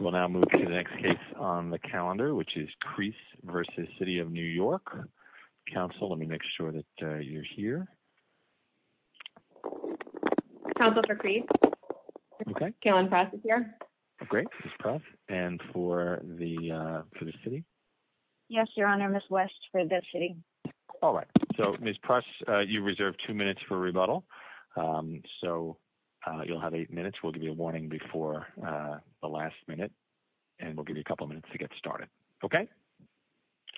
We'll now move to the next case on the calendar which is Crease v. City of New York. Council let me make sure that you're here. Council for Crease. Okay. Carolyn Press is here. Great. Ms. Press. And for the for the City? Yes, Your Honor. Ms. West for the City. All right. So Ms. Press you reserved two minutes for rebuttal so you'll have eight minutes. We'll give you a warning before the last minute and we'll give you a couple minutes to get started. Okay.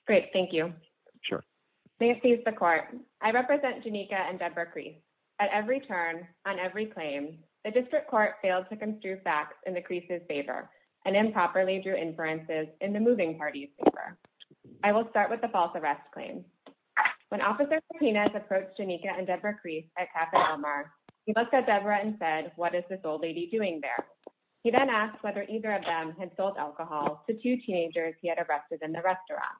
Great. Thank you. Sure. May it please the court. I represent Janika and Deborah Crease. At every turn on every claim the district court failed to construe facts in the Creases' favor and improperly drew inferences in the moving party's favor. I will start with the false arrest claim. When Officer Martinez approached Janika and Deborah and said, what is this old lady doing there? He then asked whether either of them had sold alcohol to two teenagers he had arrested in the restaurant.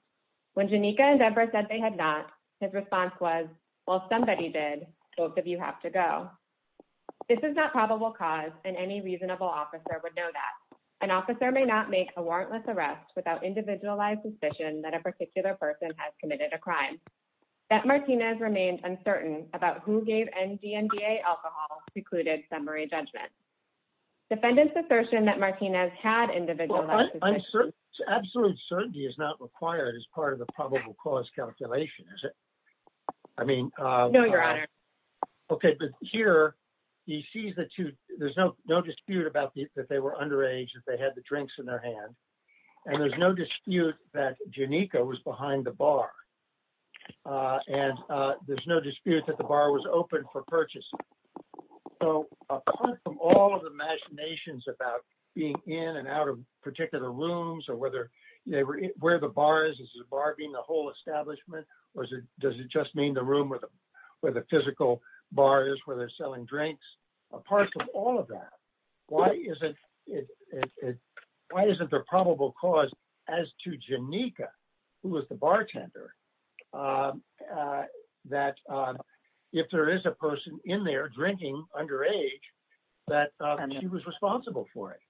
When Janika and Deborah said they had not, his response was, well, somebody did. Both of you have to go. This is not probable cause and any reasonable officer would know that. An officer may not make a warrantless arrest without individualized suspicion that a particular person has committed a crime. That Martinez remained uncertain about who gave NDNDA alcohol secluded summary judgment. Defendant's assertion that Martinez had individualized... Absolute certainty is not required as part of the probable cause calculation, is it? I mean... No, your honor. Okay. But here he sees that there's no dispute about that they were underage, that they had the drinks in their hand and there's no dispute that Janika was behind the bar. And there's no dispute that the bar was open for purchasing. So apart from all of the machinations about being in and out of particular rooms or where the bar is, is the bar being the whole establishment or does it just mean the room where the physical bar is where they're selling drinks? Apart from all of that, why isn't there probable cause as to Janika, who was the bartender, that if there is a person in there drinking underage, that she was responsible for it?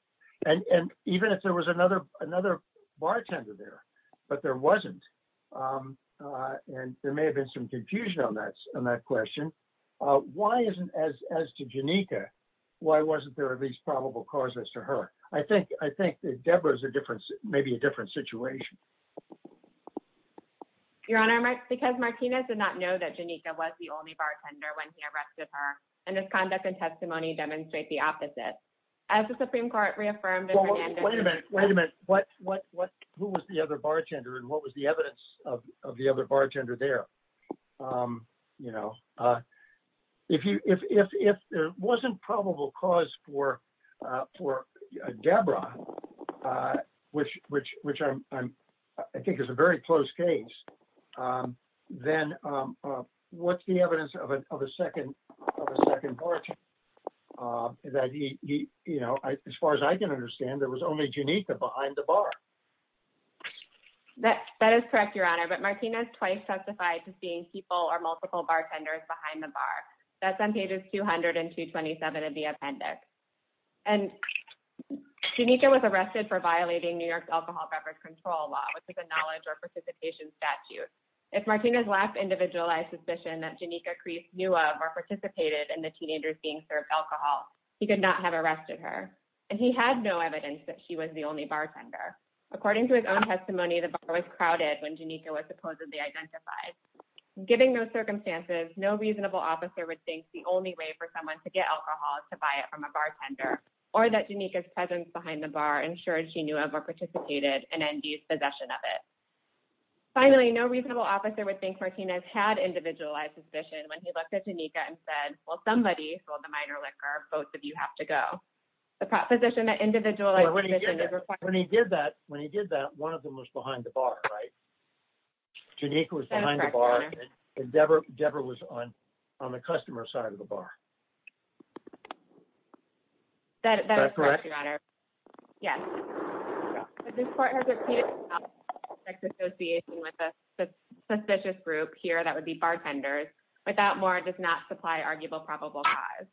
And even if there was another bartender there, but there wasn't, and there may have been some confusion on that question, why isn't as to Janika, why wasn't there at least probable cause as to her? I think that Deborah is maybe a different situation. Your honor, because Martinez did not know that Janika was the only bartender when he arrested her and his conduct and testimony demonstrate the opposite. As the Supreme Court reaffirmed... Wait a minute, wait a minute. What, what, what, who was the other bartender and what was the evidence of, of the other bartender there? You know, if you, if, if, if there wasn't probable cause for, for Deborah, which, which, which I'm, I'm, I think is a very close case, then what's the evidence of a, of a second, of a second bartender that he, he, you know, as far as I can understand, there was only Janika behind the bar. That, that is correct, your honor, but Martinez twice testified to seeing people or multiple bartenders behind the bar. That's on pages 200 and 227 of the appendix. And Janika was arrested for violating New York's alcohol beverage control law, which is a knowledge or participation statute. If Martinez' last individualized suspicion that Janika Crease knew of or participated in the teenagers being served alcohol, he could not have arrested her. And he had no evidence that she was the only bartender. According to his own testimony, the bar was crowded when Janika was supposedly identified. Given those circumstances, no reasonable officer would think the only way for someone to get or that Janika's presence behind the bar ensured she knew of or participated in ND's possession of it. Finally, no reasonable officer would think Martinez had individualized suspicion when he looked at Janika and said, well, somebody sold the minor liquor. Both of you have to go. The proposition that individualized when he did that, when he did that, one of them was behind the bar, right? Janika was behind the bar and Deborah, Deborah was on the customer side of the bar. Is that correct? That is correct, Your Honor. Yes. But this court has repeated an allegation of sex association with a suspicious group here that would be bartenders. Without more, it does not supply arguable probable cause.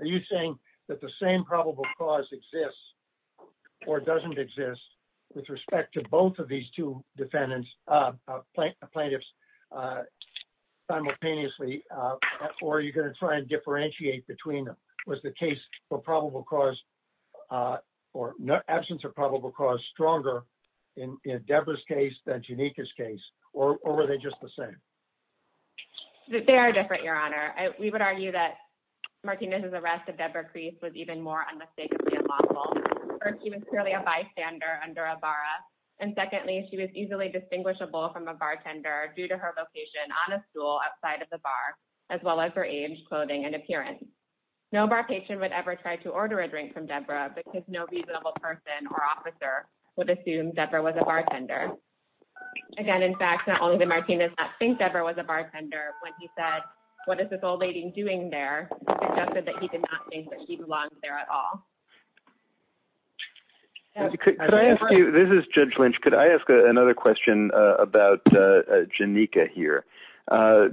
Are you saying that the same probable cause exists or doesn't exist with respect to both of these two defendants, plaintiffs simultaneously, or are you going to try and differentiate between them? Was the case for probable cause or absence of probable cause stronger in Deborah's case than Janika's case, or were they just the same? They are different, Your Honor. We would argue that Martinez's arrest of Deborah Crease was even more unmistakably unlawful. First, she was clearly a bystander under a barra, and secondly, she was easily distinguishable from a bartender due to her location on a stool outside of the bar, as well as her age, clothing, and appearance. No bar patient would ever try to order a drink from Deborah because no reasonable person or officer would assume Deborah was a bartender. Again, in fact, not only did Martinez not think Deborah was a bartender when he said, what is this old lady doing there? He suggested that he did not think that she belonged there at all. This is Judge Lynch. Could I ask another question about Janika here? I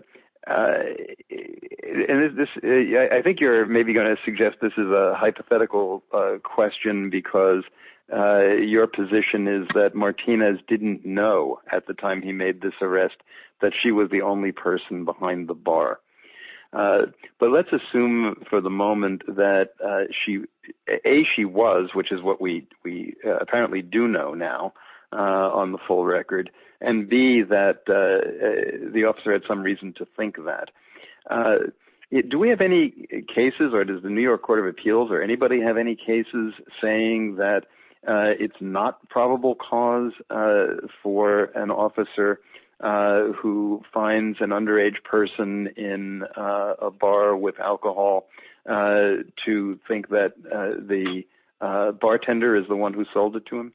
think you're maybe going to suggest this is a hypothetical question because your position is that Martinez didn't know at the time he made this arrest that she was the only person behind the bar. But let's assume for the moment that A, she was, which is what we apparently do know now on the full record, and B, that the officer had some reason to think that. Do we have any cases or does the New York Court of Appeals or anybody have any cases saying that it's not probable cause for an officer who finds an underage person in a bar with alcohol to think that the bartender is the one who sold it to him?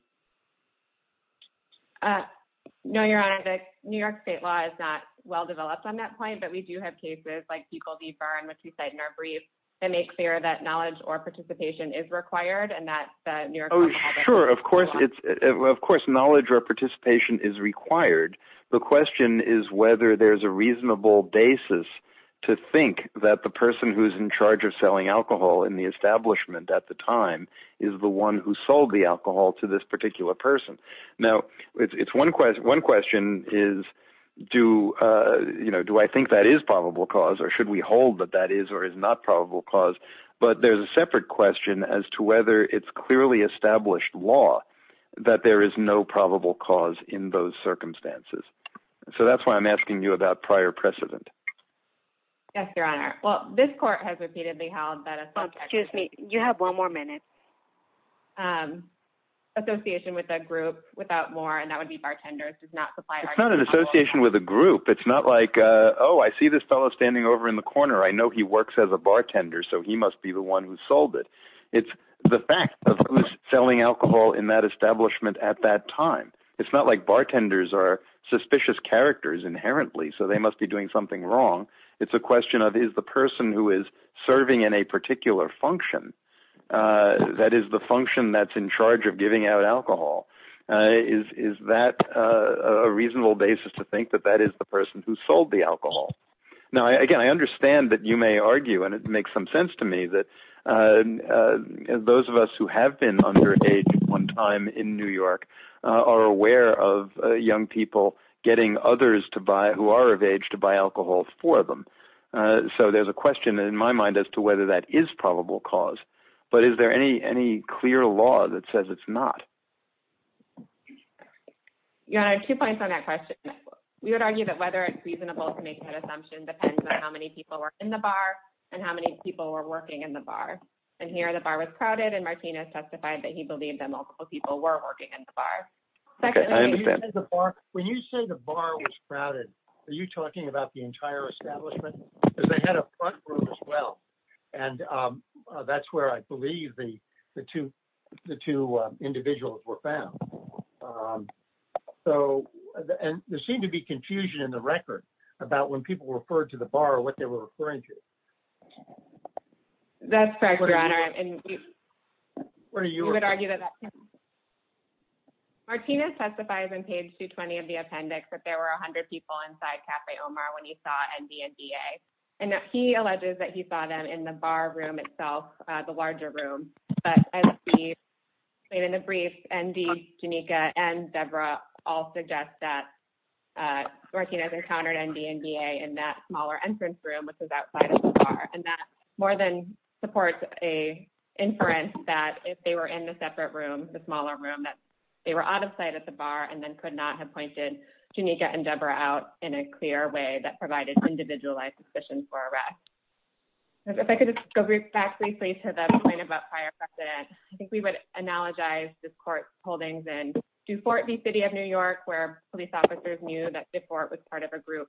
No, your honor. The New York state law is not well developed on that point, but we do have cases like Buechel v. Byrne, which we cite in our brief, that make clear that knowledge or participation is required and that the New York- Oh, sure. Of course, knowledge or participation is required. The question is whether there's a reasonable basis to think that the person who's in charge of selling alcohol in the establishment at the time is the one who sold the alcohol to this particular person. Now, one question is, do I think that is probable cause or should we hold that that is or is not probable cause? But there's a separate question as to whether it's clearly established law that there is no probable cause in those circumstances. So that's why I'm asking you about prior precedent. Yes, your honor. Well, this court has repeatedly held that- Oh, excuse me. You have one more minute. Association with a group without more, and that would be bartenders, does not supply- It's not an association with a group. It's not like, oh, I see this fellow standing over in the corner. I know he works as a bartender, so he must be the one who sold it. It's the fact of who's selling alcohol in that establishment at that time. It's not like bartenders are suspicious characters inherently, so they must be doing something wrong. It's a question of, is the person who is serving in a particular function, that is the function that's in charge of giving out alcohol, is that a reasonable basis to think that that is the cause? I understand that you may argue, and it makes some sense to me, that those of us who have been underage at one time in New York are aware of young people getting others who are of age to buy alcohol for them. So there's a question in my mind as to whether that is probable cause, but is there any clear law that says it's not? Your honor, two points on that question. We would argue that whether it's reasonable to make that assumption depends on how many people were in the bar and how many people were working in the bar. And here the bar was crowded, and Martinez testified that he believed that multiple people were working in the bar. When you say the bar was crowded, are you talking about the entire establishment? Because they had a front room as well, and that's where I believe the two individuals were found. So there seemed to be confusion in the record about when people referred to the bar, what they were referring to. That's correct, your honor, and we would argue that that's true. Martinez testified on page 220 of the appendix that there were 100 people inside Cafe Omar when he saw ND and DA, and he alleges that he saw them in the bar room itself, the larger room. But as we explained in the brief, ND, Janika, and Deborah all suggest that Martinez encountered ND and DA in that smaller entrance room, which is outside of the bar, and that more than supports a inference that if they were in the separate room, the smaller room, that they were out of sight at the bar and then could not have pointed Janika and Deborah out in a clear way that provided individualized suspicion for arrest. If I could just go back briefly to the point about prior precedent, I think we would analogize this court's holdings in Dufort v. City of New York, where police officers knew that Dufort was part of a group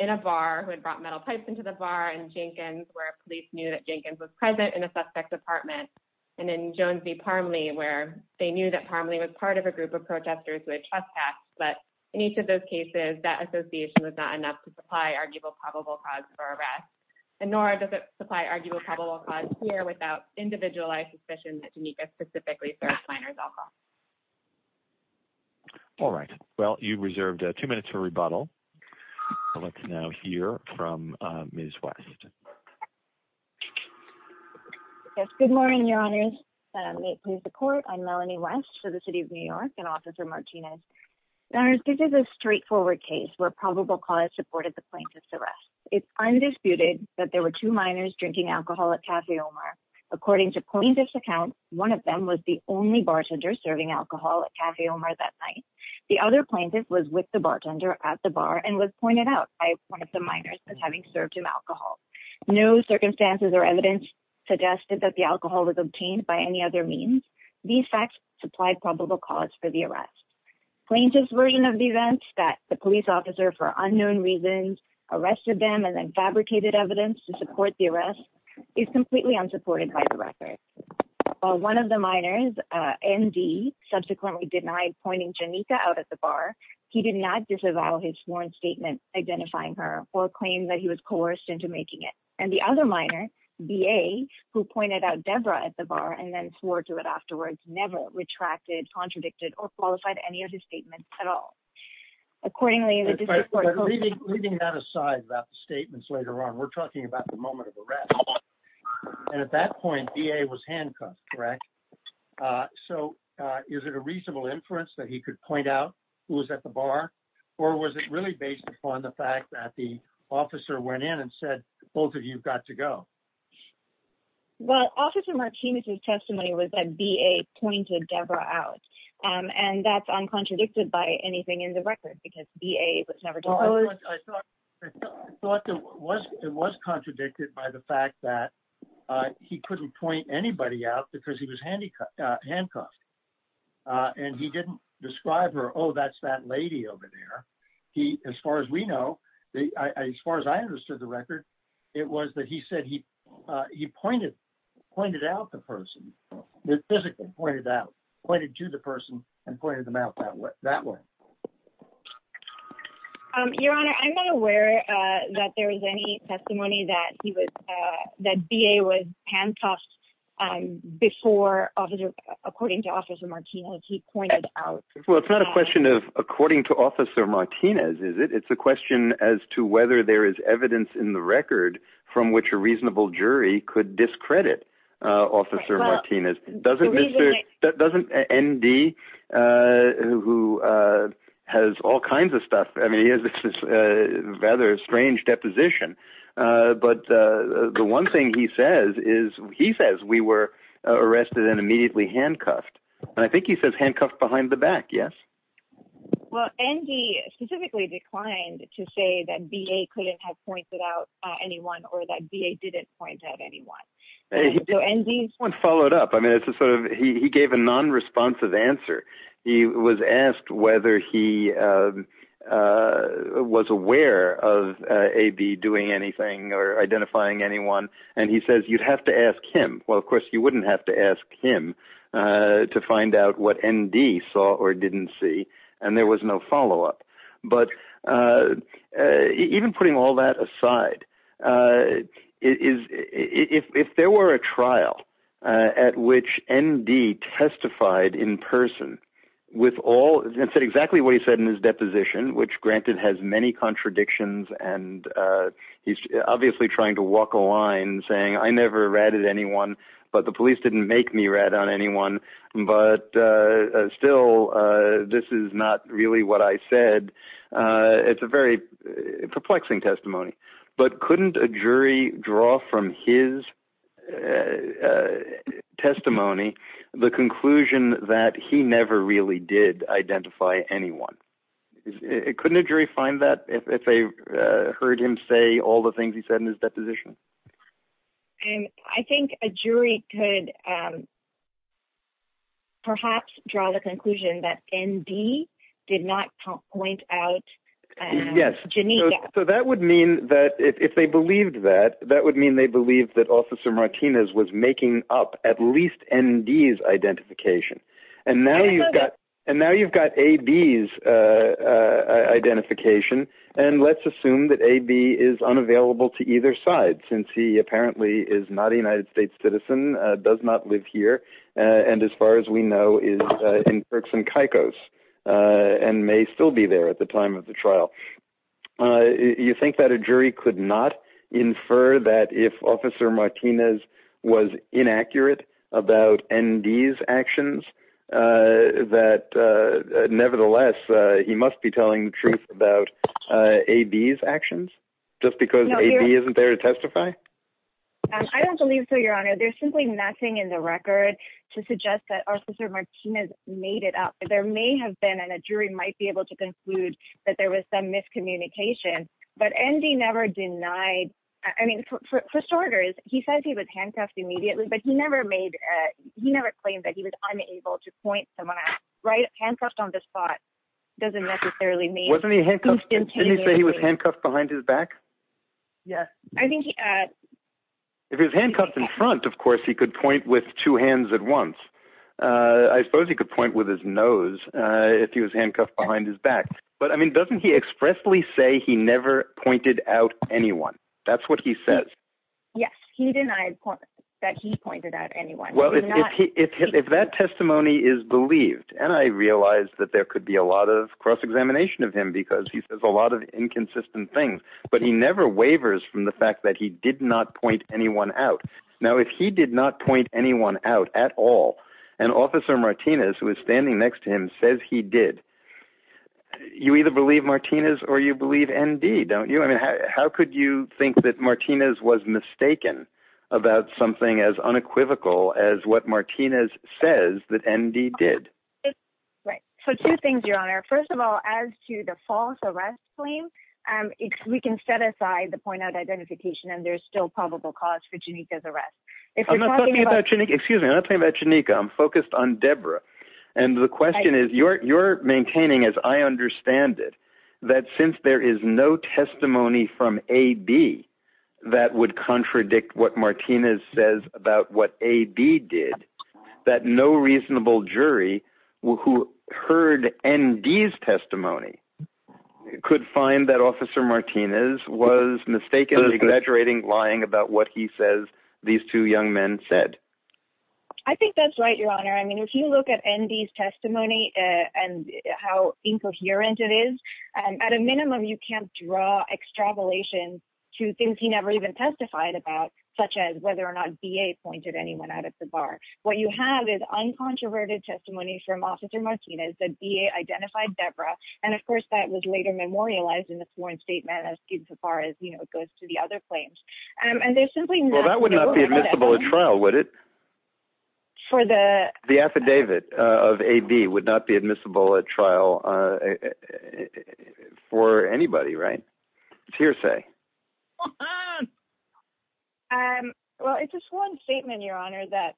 in a bar who had brought metal pipes into the bar, and Jenkins, where police knew that Jenkins was present in a suspect's apartment, and then Jones v. Parmley, where they knew that Parmley was part of a group of protesters who had trespassed, but in each of those cases, that association was not enough to supply arguable probable cause for arrest, and nor does it supply arguable probable cause here without individualized suspicion that Janika specifically served minors alcohol. All right. Well, you've reserved two minutes for rebuttal, so let's now hear from Ms. West. Yes, good morning, Your Honors. May it please the court, I'm Melanie West for the City of New York and Officer Martinez. Your Honors, this is a straightforward case where probable cause supported the plaintiff's arrest. It's undisputed that there were two minors drinking alcohol at Cafe Omar. According to plaintiff's account, one of them was the only bartender serving alcohol at Cafe Omar that night. The other plaintiff was with the bartender at the bar and was pointed out by one of the minors as having served him alcohol. No circumstances or evidence suggested that the plaintiff's version of the events that the police officer, for unknown reasons, arrested them and then fabricated evidence to support the arrest is completely unsupported by the record. While one of the minors, N.D., subsequently denied pointing Janika out at the bar, he did not disavow his sworn statement identifying her or claim that he was coerced into making it. And the other minor, B.A., who pointed out Debra at the bar and then swore to it afterwards, never retracted, contradicted, or qualified any of his statements at all. Accordingly, leaving that aside about the statements later on, we're talking about the moment of arrest. And at that point, B.A. was handcuffed, correct? So is it a reasonable inference that he could point out who was at the bar? Or was it really based upon the fact that the officer went in and said, both of you got to go? Well, Officer Martinez's testimony was that B.A. pointed Debra out. And that's uncontradicted by anything in the record, because B.A. was never disclosed. I thought it was contradicted by the fact that he couldn't point anybody out because he was handcuffed. And he didn't describe her, oh, that's that lady over there. He, as far as we know, as far as I understood the record, it was that he said he pointed out the person. It physically pointed out, pointed to the person and pointed them out that way. Your Honor, I'm not aware that there is any testimony that he was, that B.A. was handcuffed before, according to Officer Martinez, he pointed out. Well, it's not a question of according to Officer Martinez, is it? It's a question as to whether there is evidence in the record from which a reasonable jury could discredit Officer Martinez. Doesn't N.D., who has all kinds of stuff, I mean, he has this rather strange deposition. But the one thing he says is he says we were arrested and immediately handcuffed. And I think he says handcuffed behind the back. Yes. Well, N.D. specifically declined to say that B.A. couldn't have pointed out anyone or that B.A. didn't point out anyone. So N.D. followed up. I mean, it's a sort of he gave a non-responsive answer. He was asked whether he was aware of A.B. doing anything or identifying anyone. And he says you'd have to ask him. Well, of course, you wouldn't have to ask him to find out what N.D. saw or didn't see. And there was no follow up. But even putting all that aside, if there were a trial at which N.D. testified in person with all that said exactly what he said in his deposition, which, granted, has many contradictions. And he's obviously trying to walk a line saying I never ratted anyone, but the police didn't make me rat on anyone. But still, this is not really what I said. It's a very perplexing testimony. But couldn't a jury draw from his testimony the conclusion that he never really did identify anyone? Couldn't a jury find that if they heard him say all the things he said in his deposition? I think a jury could perhaps draw the conclusion that N.D. did not point out. Yes. So that would mean that if they believed that, that would mean they believed that Officer Martinez was making up at least N.D.'s identification. And now you've got A.B.'s identification. And let's assume that A.B. is unavailable to either side, since he apparently is not a United States citizen, does not live here, and as far as we know, is in Turks and Caicos and may still be there at the time of the trial. You think that a jury could not infer that if Officer Martinez was inaccurate about N.D.'s actions that nevertheless he must be telling the truth about A.B.'s actions just because A.B. isn't there to testify? I don't believe so, Your Honor. There's simply nothing in the record to suggest that Officer Martinez made it up. There may have been, and a jury might be able to conclude that there was some miscommunication. But N.D. never denied, I mean, for starters, he said he was handcuffed immediately, but he never made, he never claimed that he was unable to point someone out, right? Handcuffed on the spot doesn't necessarily mean... Wasn't he handcuffed, didn't he say he was handcuffed behind his back? Yes. I think he... If he was handcuffed in front, of course, he could point with two hands at once. I suppose he could point with his nose if he was handcuffed behind his back. But I mean, he expressly say he never pointed out anyone. That's what he says. Yes, he denied that he pointed out anyone. Well, if that testimony is believed, and I realize that there could be a lot of cross-examination of him because he says a lot of inconsistent things, but he never waivers from the fact that he did not point anyone out. Now, if he did not point anyone out at all, and Officer Martinez, who is standing next to him, says he did, you either believe Martinez or you believe N.D., don't you? I mean, how could you think that Martinez was mistaken about something as unequivocal as what Martinez says that N.D. did? Right. So two things, Your Honor. First of all, as to the false arrest claim, we can set aside the point out identification, and there's still probable cause for Cheneika's focus on Debra. And the question is, you're maintaining, as I understand it, that since there is no testimony from A.B. that would contradict what Martinez says about what A.B. did, that no reasonable jury who heard N.D.'s testimony could find that Officer Martinez was mistakenly exaggerating, lying about what he says these two young men said. I think that's right, Your Honor. I mean, if you look at N.D.'s testimony and how incoherent it is, at a minimum, you can't draw extrapolation to things he never even testified about, such as whether or not B.A. pointed anyone out at the bar. What you have is uncontroverted testimony from Officer Martinez that B.A. identified Debra. And of course, that was later memorialized in the sworn statement as far as it goes to the other claims. And there's simply no— Well, that would not be admissible at trial, would it? For the— The affidavit of A.B. would not be admissible at trial for anybody, right? It's hearsay. Well, it's a sworn statement, Your Honor, that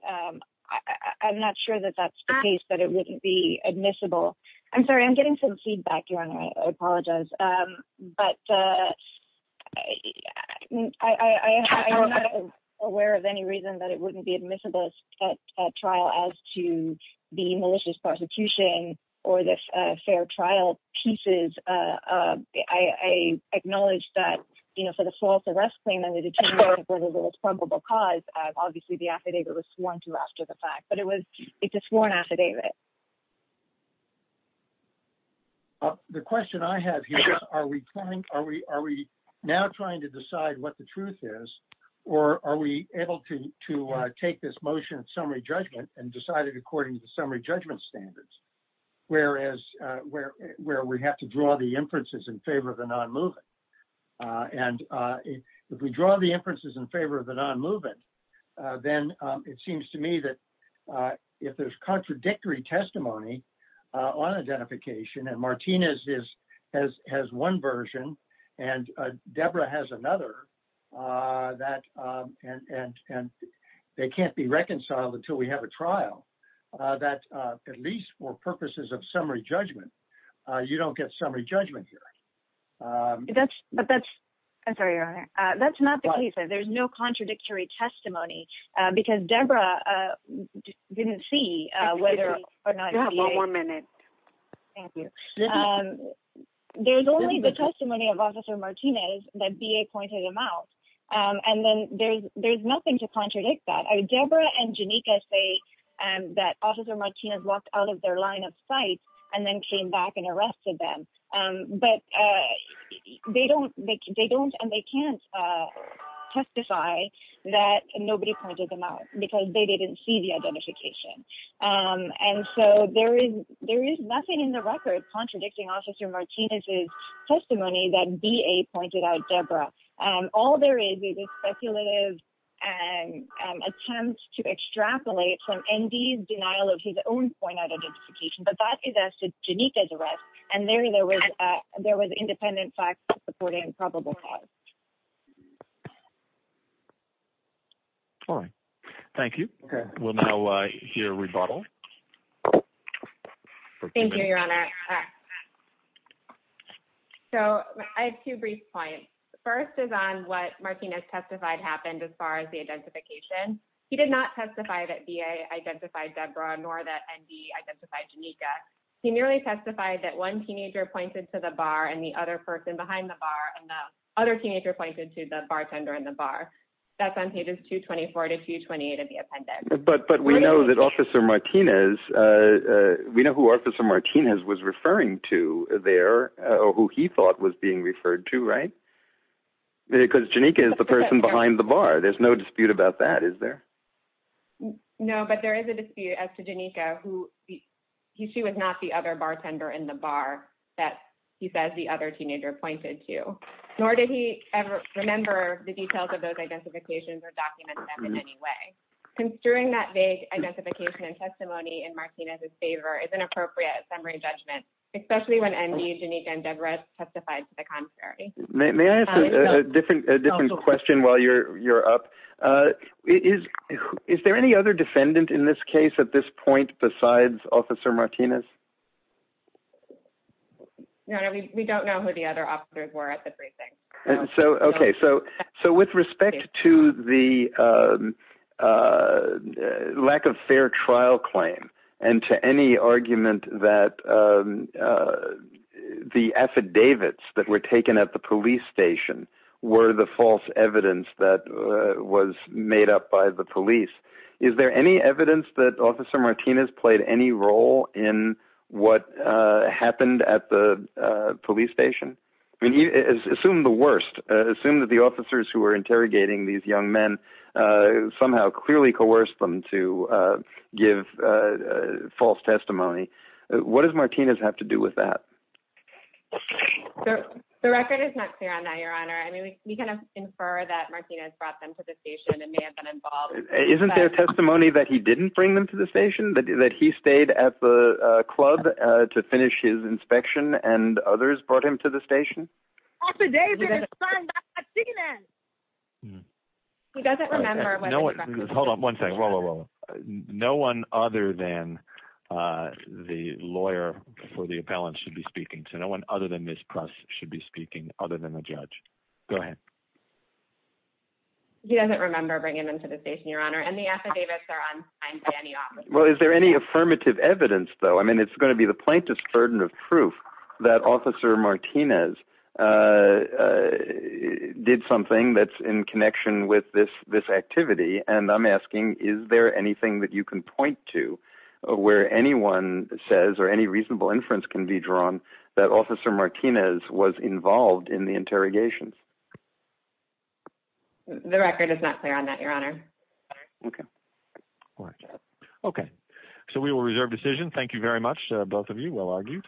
I'm not sure that that's the case, that it wouldn't be admissible. I'm sorry, I'm getting some feedback, Your Honor. I apologize. But I'm not aware of any reason that it wouldn't be admissible at trial as to the malicious prosecution or the fair trial pieces. I acknowledge that, you know, for the false arrest claim and the determination of whether there was probable cause, obviously, the affidavit was sworn to after the fact. But it was—it's a sworn affidavit. The question I have here is, are we now trying to decide what the truth is, or are we able to take this motion of summary judgment and decide it according to the summary judgment standards, whereas—where we have to draw the inferences in favor of the non-movement? And if we draw the inferences in favor of the non-movement, then it seems to me that if there's contradictory testimony on identification, and Martinez has one version, and Deborah has another, that—and they can't be reconciled until we have a trial, that at least for purposes of summary judgment, you don't get summary judgment here. But that's—I'm sorry, Your Honor. That's not the case. There's no contradictory testimony, because Deborah didn't see whether or not— You have one more minute. Thank you. There's only the testimony of Officer Martinez that B.A. pointed him out, and then there's nothing to contradict that. Deborah and Janika say that Officer Martinez walked out of their line of sight and then came back and arrested them. But they don't—and nobody pointed them out, because they didn't see the identification. And so, there is nothing in the record contradicting Officer Martinez's testimony that B.A. pointed out Deborah. All there is is a speculative attempt to extrapolate from N.D.'s denial of his own point out identification, but that is as to Janika's arrest, and there was independent facts supporting probable cause. All right. Thank you. We'll now hear a rebuttal. Thank you, Your Honor. So, I have two brief points. The first is on what Martinez testified happened as far as the identification. He did not testify that B.A. identified Deborah, nor that N.D. identified Janika. He merely testified that one teenager pointed to the bar and the other person behind the bar, and the other teenager pointed to the bartender in the bar. But we know that Officer Martinez—we know who Officer Martinez was referring to there, or who he thought was being referred to, right? Because Janika is the person behind the bar. There's no dispute about that, is there? No, but there is a dispute as to Janika, who she was not the other bartender in the bar that he says the other teenager pointed to, nor did he ever remember the details of those identifications or document them in any way. Construing that vague identification and testimony in Martinez's favor is an appropriate summary judgment, especially when N.D., Janika, and Deborah testified to the contrary. May I ask a different question while you're up? Is there any other defendant in this case at this point besides Officer Martinez? Your Honor, we don't know who the other officers were at the briefing. Okay, so with respect to the lack of fair trial claim and to any argument that the affidavits that were taken at the police station were the false evidence that was made up by the police, is there any evidence that police station? Assume the worst. Assume that the officers who were interrogating these young men somehow clearly coerced them to give false testimony. What does Martinez have to do with that? The record is not clear on that, Your Honor. I mean, we kind of infer that Martinez brought them to the station and may have been involved. Isn't there testimony that he didn't bring them to the station, that he stayed at the club to finish his inspection and others brought him to the station? Affidavits signed by Martinez. He doesn't remember. Hold on one second. No one other than the lawyer for the appellant should be speaking. So no one other than this press should be speaking other than the judge. Go ahead. He doesn't remember bringing them to the station, Your Honor. And the affidavits are on. Well, is there any affirmative evidence, though? I mean, it's going to be the plaintiff's burden of proof that Officer Martinez did something that's in connection with this this activity. And I'm asking, is there anything that you can point to where anyone says or any reasonable inference can be drawn that Officer Martinez was involved in the interrogations? The record is not clear on that, Your Honor. Okay. All right. Okay. So we will reserve decision. Thank you very much, both of you. Well argued.